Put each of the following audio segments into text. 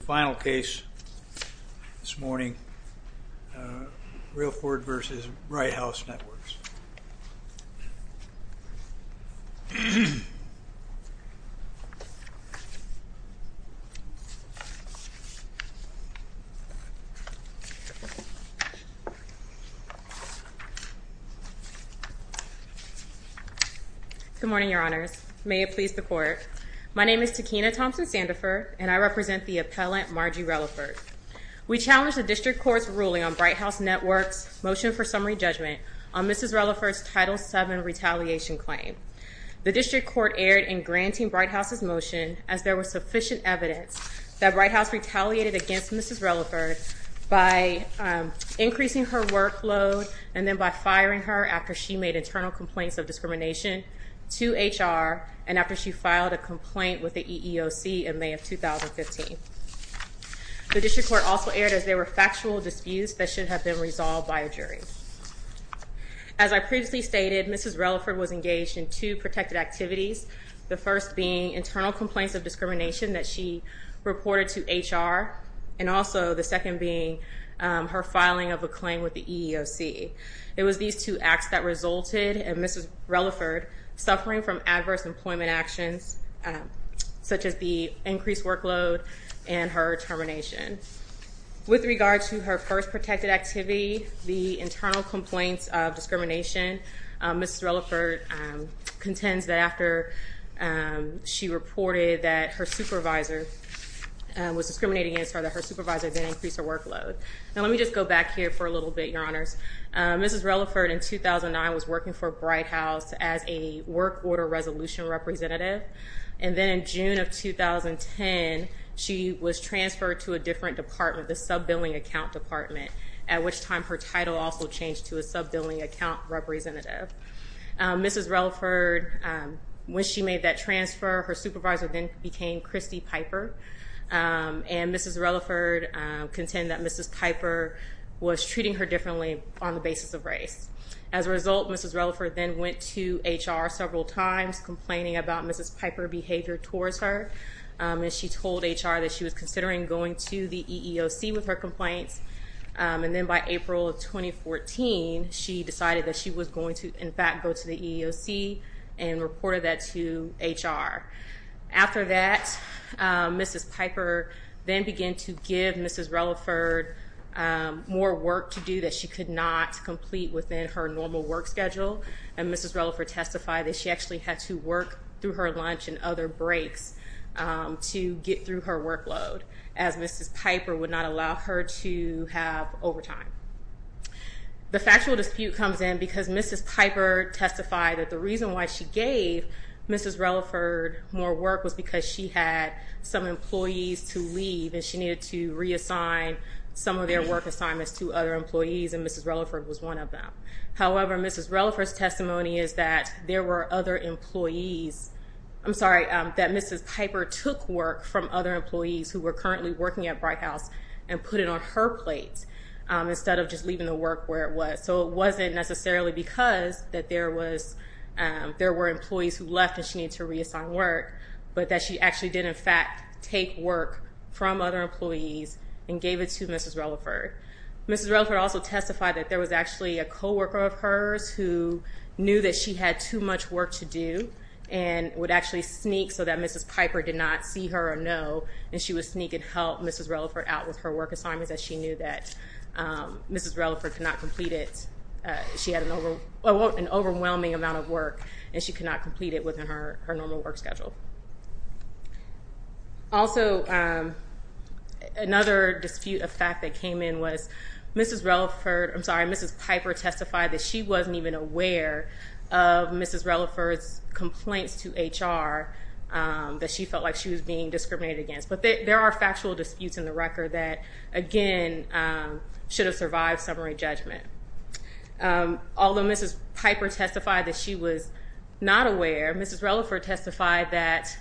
Final case this morning, Reliford v. Bright House Networks. Good morning, Your Honors. May it please the Court. My name is Tekina Thompson-Sandiford, and I represent the appellant, Margie Reliford. We challenge the District Court's ruling on Bright House Networks' motion for summary judgment on Mrs. Reliford's Title VII retaliation claim. The District Court erred in granting Bright House's motion as there was sufficient evidence that Bright House retaliated against Mrs. Reliford by increasing her workload and then by firing her after she made internal complaints of discrimination to HR and after she filed a complaint with the EEOC in May of 2015. The District Court also erred as there were factual disputes that should have been resolved by a jury. As I previously stated, Mrs. Reliford was engaged in two protected activities, the first being internal complaints of discrimination that she reported to HR, and also the second being her filing of a claim with the EEOC. It was these two acts that resulted in Mrs. Reliford suffering from adverse employment actions, such as the increased workload and her termination. With regard to her first protected activity, the internal complaints of discrimination, Mrs. Reliford contends that after she reported that her supervisor was discriminating against her, that her supervisor then increased her workload. Now let me just go back here for a little bit, Your Honors. Mrs. Reliford in 2009 was working for Bright House as a work order resolution representative, and then in June of 2010 she was transferred to a different department, the sub-billing account department, at which time her title also changed to a sub-billing account representative. Mrs. Reliford, when she made that transfer, her supervisor then became Christy Piper, and Mrs. Reliford contended that Mrs. Piper was treating her differently on the basis of race. As a result, Mrs. Reliford then went to HR several times complaining about Mrs. Piper's behavior towards her, and she told HR that she was considering going to the EEOC with her complaints, and then by April of 2014 she decided that she was going to, in fact, go to the EEOC and reported that to HR. After that, Mrs. Piper then began to give Mrs. Reliford more work to do that she could not complete within her normal work schedule, and Mrs. Reliford testified that she actually had to work through her lunch and other breaks to get through her workload, as Mrs. Piper would not allow her to have overtime. The factual dispute comes in because Mrs. Piper testified that the reason why she gave Mrs. Reliford more work was because she had some employees to leave, and she needed to reassign some of their work assignments to other employees, and Mrs. Reliford was one of them. However, Mrs. Reliford's testimony is that there were other employees. I'm sorry, that Mrs. Piper took work from other employees who were currently working at Bright House and put it on her plate instead of just leaving the work where it was. So it wasn't necessarily because that there were employees who left and she needed to reassign work, but that she actually did, in fact, take work from other employees and gave it to Mrs. Reliford. Mrs. Reliford also testified that there was actually a co-worker of hers who knew that she had too much work to do and would actually sneak so that Mrs. Piper did not see her or know, and she would sneak and help Mrs. Reliford out with her work assignments as she knew that Mrs. Reliford could not complete it. She had an overwhelming amount of work, and she could not complete it within her normal work schedule. Also, another dispute of fact that came in was Mrs. Reliford, I'm sorry, Mrs. Piper testified that she wasn't even aware of Mrs. Reliford's complaints to HR that she felt like she was being discriminated against. But there are factual disputes in the record that, again, should have survived summary judgment. Although Mrs. Piper testified that she was not aware, Mrs. Reliford testified that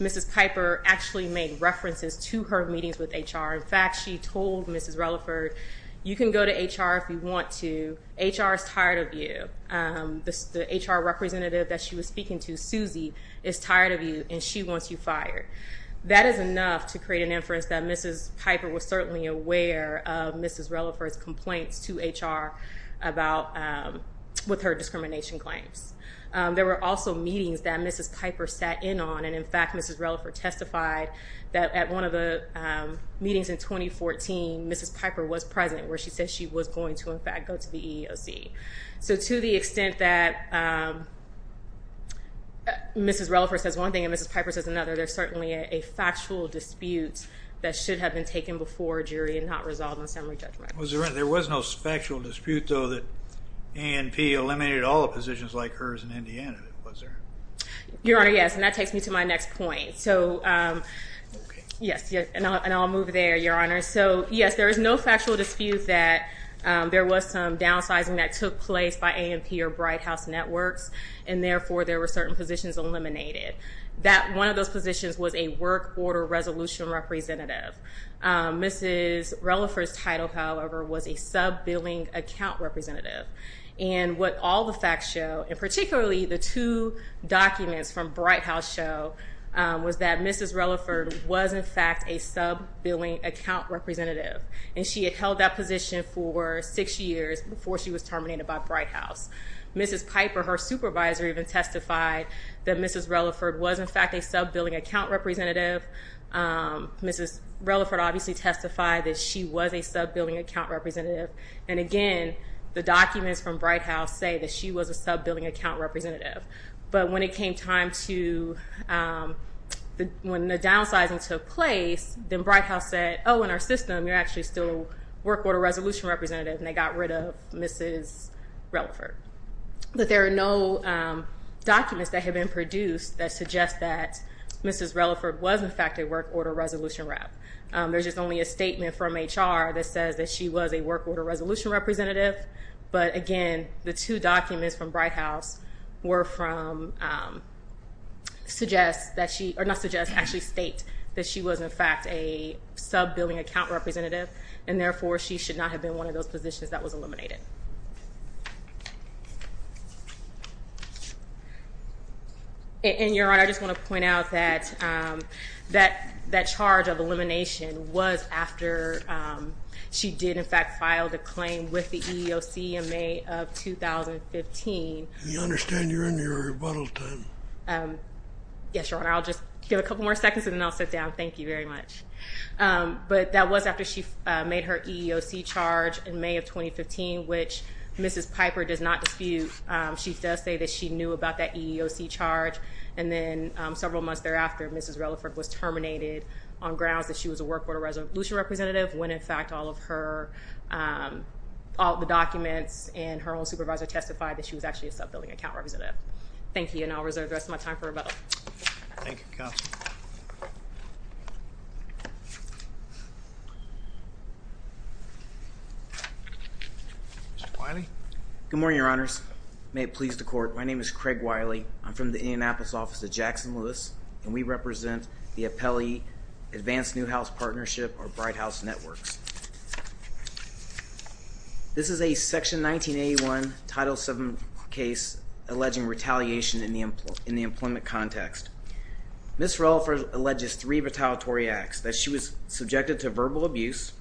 Mrs. Piper actually made references to her meetings with HR. In fact, she told Mrs. Reliford, you can go to HR if you want to. HR is tired of you. The HR representative that she was speaking to, Susie, is tired of you, and she wants you fired. That is enough to create an inference that Mrs. Piper was certainly aware of Mrs. Reliford's complaints to HR with her discrimination claims. There were also meetings that Mrs. Piper sat in on, and in fact, Mrs. Reliford testified that at one of the meetings in 2014, Mrs. Piper was present where she said she was going to, in fact, go to the EEOC. So to the extent that Mrs. Reliford says one thing and Mrs. Piper says another, there's certainly a factual dispute that should have been taken before a jury and not resolved in summary judgment. There was no factual dispute, though, that ANP eliminated all the positions like hers in Indiana, was there? Your Honor, yes, and that takes me to my next point. So, yes, and I'll move there, Your Honor. So, yes, there is no factual dispute that there was some downsizing that took place by ANP or Bright House Networks, and therefore there were certain positions eliminated. One of those positions was a work order resolution representative. Mrs. Reliford's title, however, was a sub-billing account representative. And what all the facts show, and particularly the two documents from Bright House show, was that Mrs. Reliford was, in fact, a sub-billing account representative, and she had held that position for six years before she was terminated by Bright House. Mrs. Piper, her supervisor, even testified that Mrs. Reliford was, in fact, a sub-billing account representative. Mrs. Reliford obviously testified that she was a sub-billing account representative. And, again, the documents from Bright House say that she was a sub-billing account representative. But when it came time to when the downsizing took place, then Bright House said, oh, in our system you're actually still a work order resolution representative, and they got rid of Mrs. Reliford. But there are no documents that have been produced that suggest that Mrs. Reliford was, in fact, a work order resolution rep. There's just only a statement from H.R. that says that she was a work order resolution representative. But, again, the two documents from Bright House were from, suggest that she, or not suggest, actually state that she was, in fact, a sub-billing account representative, and therefore she should not have been one of those positions that was eliminated. And, Your Honor, I just want to point out that that charge of elimination was after she did, in fact, file the claim with the EEOC in May of 2015. I understand you're in your rebuttal time. Yes, Your Honor. I'll just give a couple more seconds and then I'll sit down. Thank you very much. But that was after she made her EEOC charge in May of 2015, which Mrs. Piper does not dispute. She does say that she knew about that EEOC charge, and then several months thereafter Mrs. Reliford was terminated on grounds that she was a work order resolution representative, when, in fact, all of her, all the documents and her own supervisor testified that she was actually a sub-billing account representative. Thank you, and I'll reserve the rest of my time for rebuttal. Thank you, Counsel. Mr. Wiley? Good morning, Your Honors. May it please the Court, my name is Craig Wiley. I'm from the Indianapolis office of Jackson Lewis, and we represent the Appelli Advanced Newhouse Partnership, or Bright House Networks. This is a Section 1981 Title VII case alleging retaliation in the employment context. Ms. Reliford alleges three retaliatory acts, that she was subjected to verbal abuse,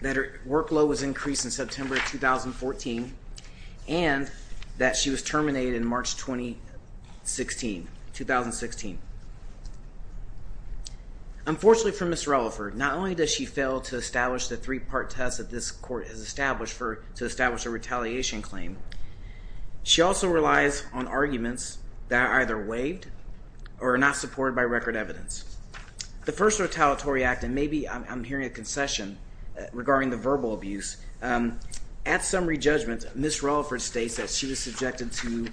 that her workload was increased in September 2014, and that she was terminated in March 2016. Unfortunately for Ms. Reliford, not only does she fail to establish the three-part test that this Court has established to establish a retaliation claim, she also relies on arguments that are either waived or are not supported by record evidence. The first retaliatory act, and maybe I'm hearing a concession regarding the verbal abuse, at summary judgment, Ms. Reliford states that she was subjected to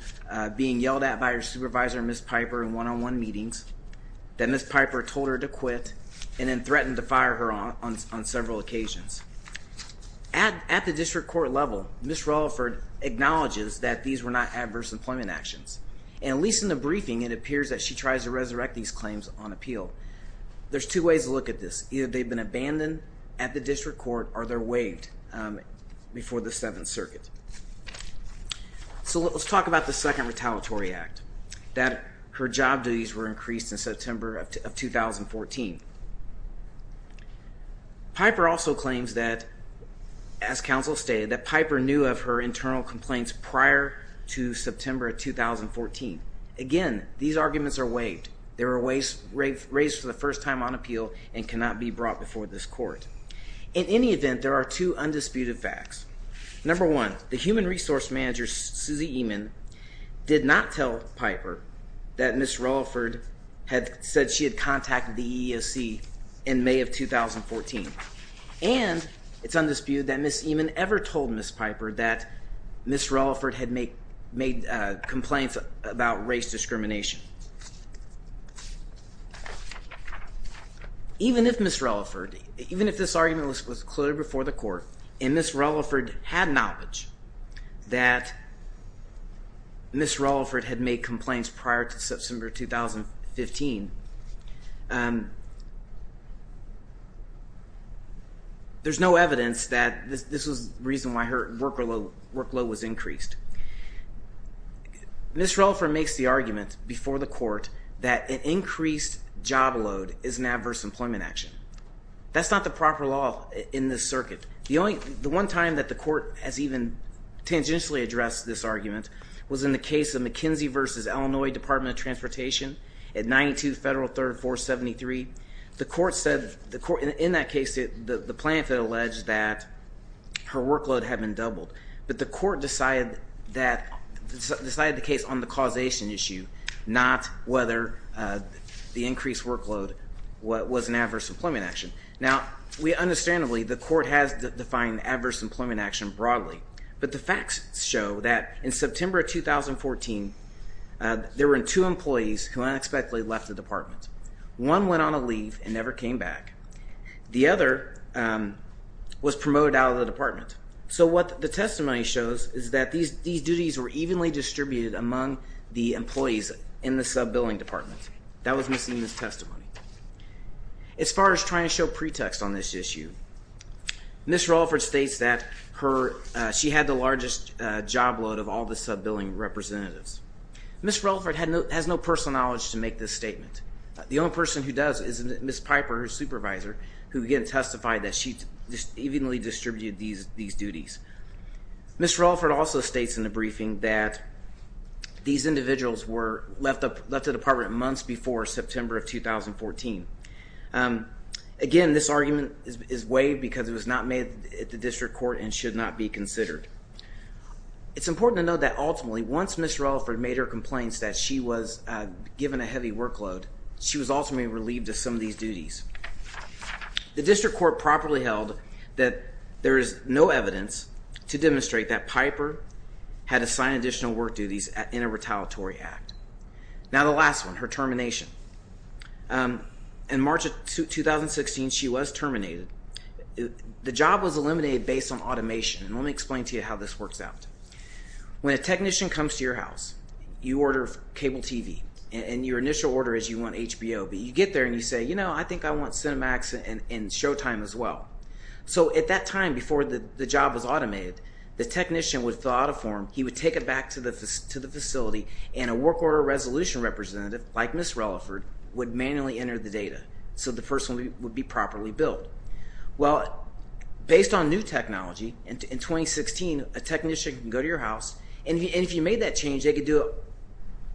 being yelled at by her supervisor, Ms. Piper, in one-on-one meetings, that Ms. Piper told her to quit, and then threatened to fire her on several occasions. At the district court level, Ms. Reliford acknowledges that these were not adverse employment actions, and at least in the briefing it appears that she tries to resurrect these claims on appeal. There's two ways to look at this. Either they've been abandoned at the district court, or they're waived before the Seventh Circuit. So let's talk about the second retaliatory act. That her job duties were increased in September of 2014. Piper also claims that, as counsel stated, that Piper knew of her internal complaints prior to September of 2014. Again, these arguments are waived. They were raised for the first time on appeal and cannot be brought before this Court. In any event, there are two undisputed facts. Number one, the human resource manager, Suzy Eman, did not tell Piper that Ms. Reliford had said she had contacted the EEOC in May of 2014. And it's undisputed that Ms. Eman ever told Ms. Piper that Ms. Reliford had made complaints about race discrimination. Even if Ms. Reliford, even if this argument was concluded before the Court, and Ms. Reliford had knowledge that Ms. Reliford had made complaints prior to September 2015, there's no evidence that this was the reason why her workload was increased. Ms. Reliford makes the argument before the Court that an increased job load is an adverse employment action. That's not the proper law in this circuit. The one time that the Court has even tangentially addressed this argument was in the case of McKinsey v. Illinois Department of Transportation at 92 Federal 3rd 473. The Court said, in that case, the plaintiff had alleged that her workload had been doubled. But the Court decided that, decided the case on the causation issue, not whether the increased workload was an adverse employment action. Now, we understandably, the Court has defined adverse employment action broadly. But the facts show that in September 2014, there were two employees who unexpectedly left the department. One went on a leave and never came back. The other was promoted out of the department. So what the testimony shows is that these duties were evenly distributed among the employees in the sub-billing department. That was missing in this testimony. As far as trying to show pretext on this issue, Ms. Reliford states that she had the largest job load of all the sub-billing representatives. Ms. Reliford has no personal knowledge to make this statement. The only person who does is Ms. Piper, her supervisor, who again testified that she evenly distributed these duties. Ms. Reliford also states in the briefing that these individuals were left at the department months before September of 2014. Again, this argument is waived because it was not made at the District Court and should not be considered. It's important to note that ultimately, once Ms. Reliford made her complaints that she was given a heavy workload, she was ultimately relieved of some of these duties. The District Court properly held that there is no evidence to demonstrate that Piper had assigned additional work duties in a retaliatory act. Now the last one, her termination. In March of 2016, she was terminated. The job was eliminated based on automation, and let me explain to you how this works out. When a technician comes to your house, you order cable TV, and your initial order is you want HBO. But you get there and you say, you know, I think I want Cinemax and Showtime as well. So at that time before the job was automated, the technician would fill out a form. He would take it back to the facility, and a work order resolution representative like Ms. Reliford would manually enter the data so the person would be properly billed. Well, based on new technology, in 2016, a technician can go to your house, and if you made that change, they could do it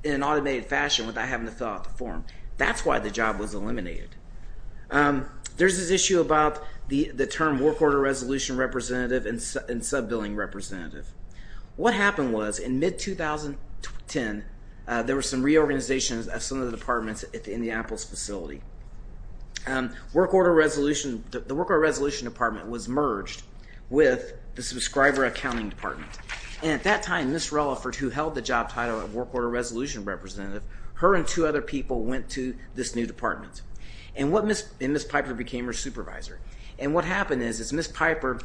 in an automated fashion without having to fill out the form. That's why the job was eliminated. There's this issue about the term work order resolution representative and sub-billing representative. What happened was in mid-2010, there were some reorganizations at some of the departments in the Apples facility. The work order resolution department was merged with the subscriber accounting department. And at that time, Ms. Reliford, who held the job title of work order resolution representative, her and two other people went to this new department, and Ms. Piper became her supervisor. And what happened is Ms. Piper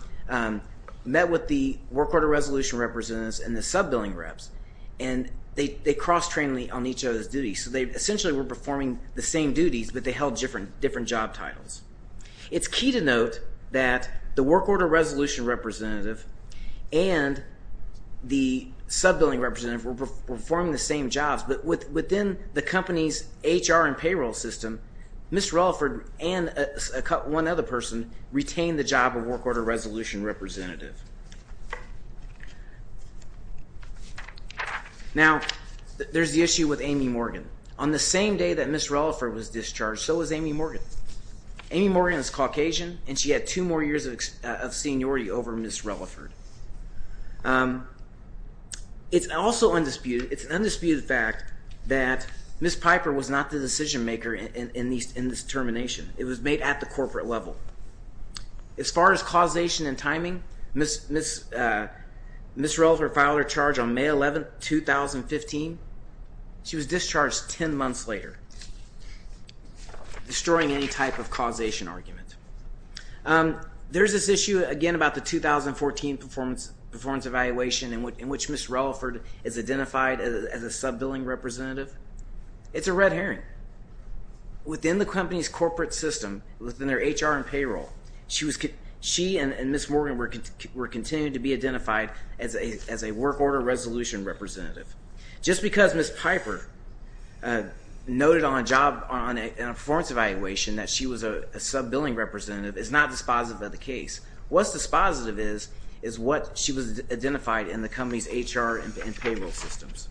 met with the work order resolution representatives and the sub-billing reps, and they cross-trained on each other's duties. So they essentially were performing the same duties, but they held different job titles. It's key to note that the work order resolution representative and the sub-billing representative were performing the same jobs. But within the company's HR and payroll system, Ms. Reliford and one other person retained the job of work order resolution representative. Now, there's the issue with Amy Morgan. On the same day that Ms. Reliford was discharged, so was Amy Morgan. Amy Morgan is Caucasian, and she had two more years of seniority over Ms. Reliford. It's also undisputed – it's an undisputed fact that Ms. Piper was not the decision-maker in this termination. It was made at the corporate level. As far as causation and timing, Ms. Reliford filed her charge on May 11, 2015. She was discharged 10 months later, destroying any type of causation argument. There's this issue, again, about the 2014 performance evaluation in which Ms. Reliford is identified as a sub-billing representative. It's a red herring. Within the company's corporate system, within their HR and payroll, she and Ms. Morgan were continuing to be identified as a work order resolution representative. Just because Ms. Piper noted on a job – on a performance evaluation that she was a sub-billing representative is not dispositive of the case. What's dispositive is what she was identified in the company's HR and payroll systems.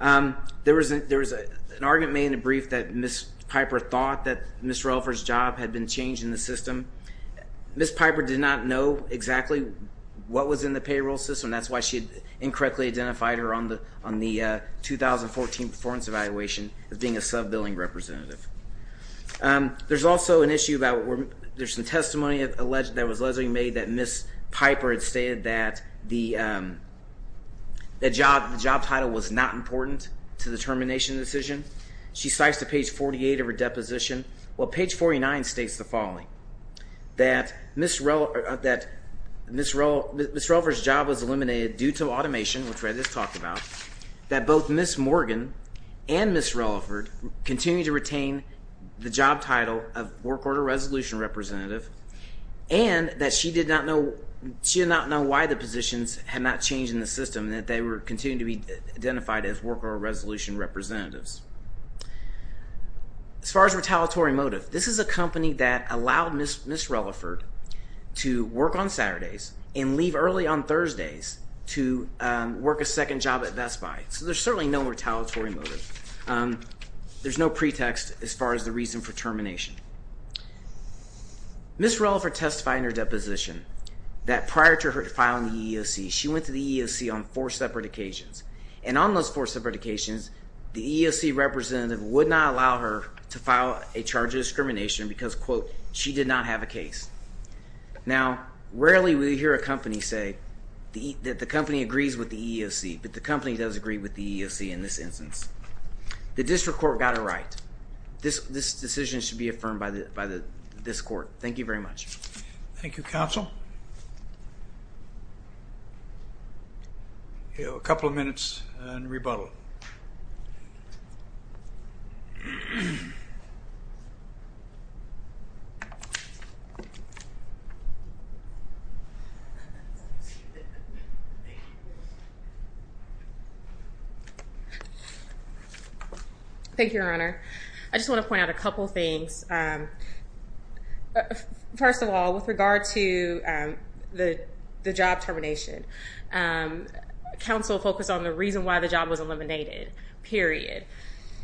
There was an argument made in a brief that Ms. Piper thought that Ms. Reliford's job had been changed in the system. Ms. Piper did not know exactly what was in the payroll system. That's why she had incorrectly identified her on the 2014 performance evaluation as being a sub-billing representative. There's also an issue about – there's some testimony that was allegedly made that Ms. Piper had stated that the job title was not important to the termination decision. She cites to page 48 of her deposition. Well, page 49 states the following, that Ms. Reliford's job was eliminated due to automation, which we just talked about, that both Ms. Morgan and Ms. Reliford continued to retain the job title of work order resolution representative, and that she did not know – she did not know why the positions had not changed in the system, and that they were continuing to be identified as work order resolution representatives. As far as retaliatory motive, this is a company that allowed Ms. Reliford to work on Saturdays and leave early on Thursdays to work a second job at Best Buy. So there's certainly no retaliatory motive. There's no pretext as far as the reason for termination. Ms. Reliford testified in her deposition that prior to her filing the EEOC, she went to the EEOC on four separate occasions. And on those four separate occasions, the EEOC representative would not allow her to file a charge of discrimination because, quote, she did not have a case. Now, rarely will you hear a company say that the company agrees with the EEOC, but the company does agree with the EEOC in this instance. The district court got it right. This decision should be affirmed by this court. Thank you very much. Thank you, counsel. A couple of minutes and rebuttal. Thank you, Your Honor. I just want to point out a couple of things. First of all, with regard to the job termination, counsel focused on the reason why the job was eliminated, period.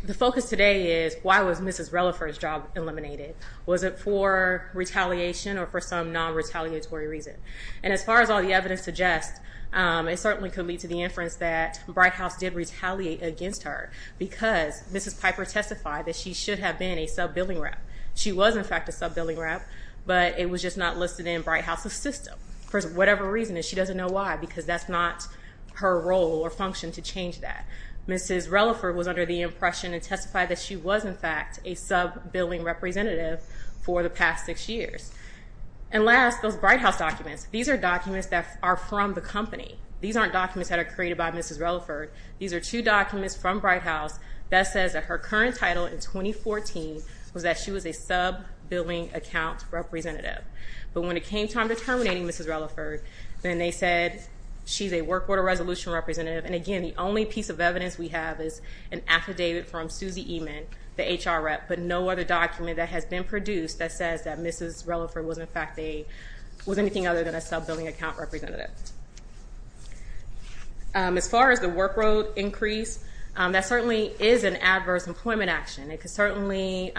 The focus today is why was Mrs. Reliford's job eliminated? Was it for retaliation or for some non-retaliatory reason? And as far as all the evidence suggests, it certainly could lead to the inference that Bright House did retaliate against her because Mrs. Piper testified that she should have been a sub-billing rep. She was, in fact, a sub-billing rep, but it was just not listed in Bright House's system. For whatever reason, and she doesn't know why because that's not her role or function to change that. Mrs. Reliford was under the impression and testified that she was, in fact, a sub-billing representative for the past six years. And last, those Bright House documents. These are documents that are from the company. These aren't documents that are created by Mrs. Reliford. These are two documents from Bright House that says that her current title in 2014 was that she was a sub-billing account representative. But when it came time to terminating Mrs. Reliford, then they said she's a work order resolution representative. And again, the only piece of evidence we have is an affidavit from Susie Eman, the HR rep, but no other document that has been produced that says that Mrs. Reliford was, in fact, anything other than a sub-billing account representative. As far as the work road increase, that certainly is an adverse employment action. It could certainly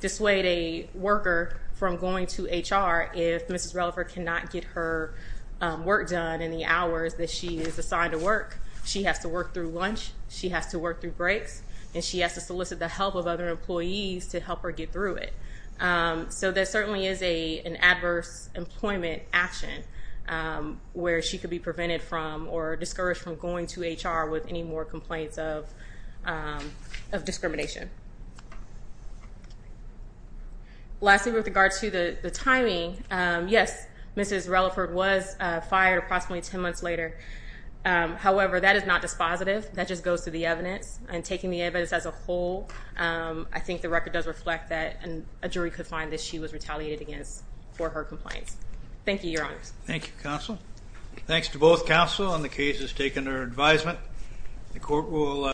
dissuade a worker from going to HR if Mrs. Reliford cannot get her work done in the hours that she is assigned to work. She has to work through lunch. She has to work through breaks. And she has to solicit the help of other employees to help her get through it. So there certainly is an adverse employment action where she could be prevented from or discouraged from going to HR with any more complaints of discrimination. Lastly, with regard to the timing, yes, Mrs. Reliford was fired approximately 10 months later. However, that is not dispositive. That just goes to the evidence. And taking the evidence as a whole, I think the record does reflect that a jury could find that she was retaliated against for her complaints. Thank you, Your Honors. Thank you, Counsel. Thanks to both counsel on the cases taken under advisement.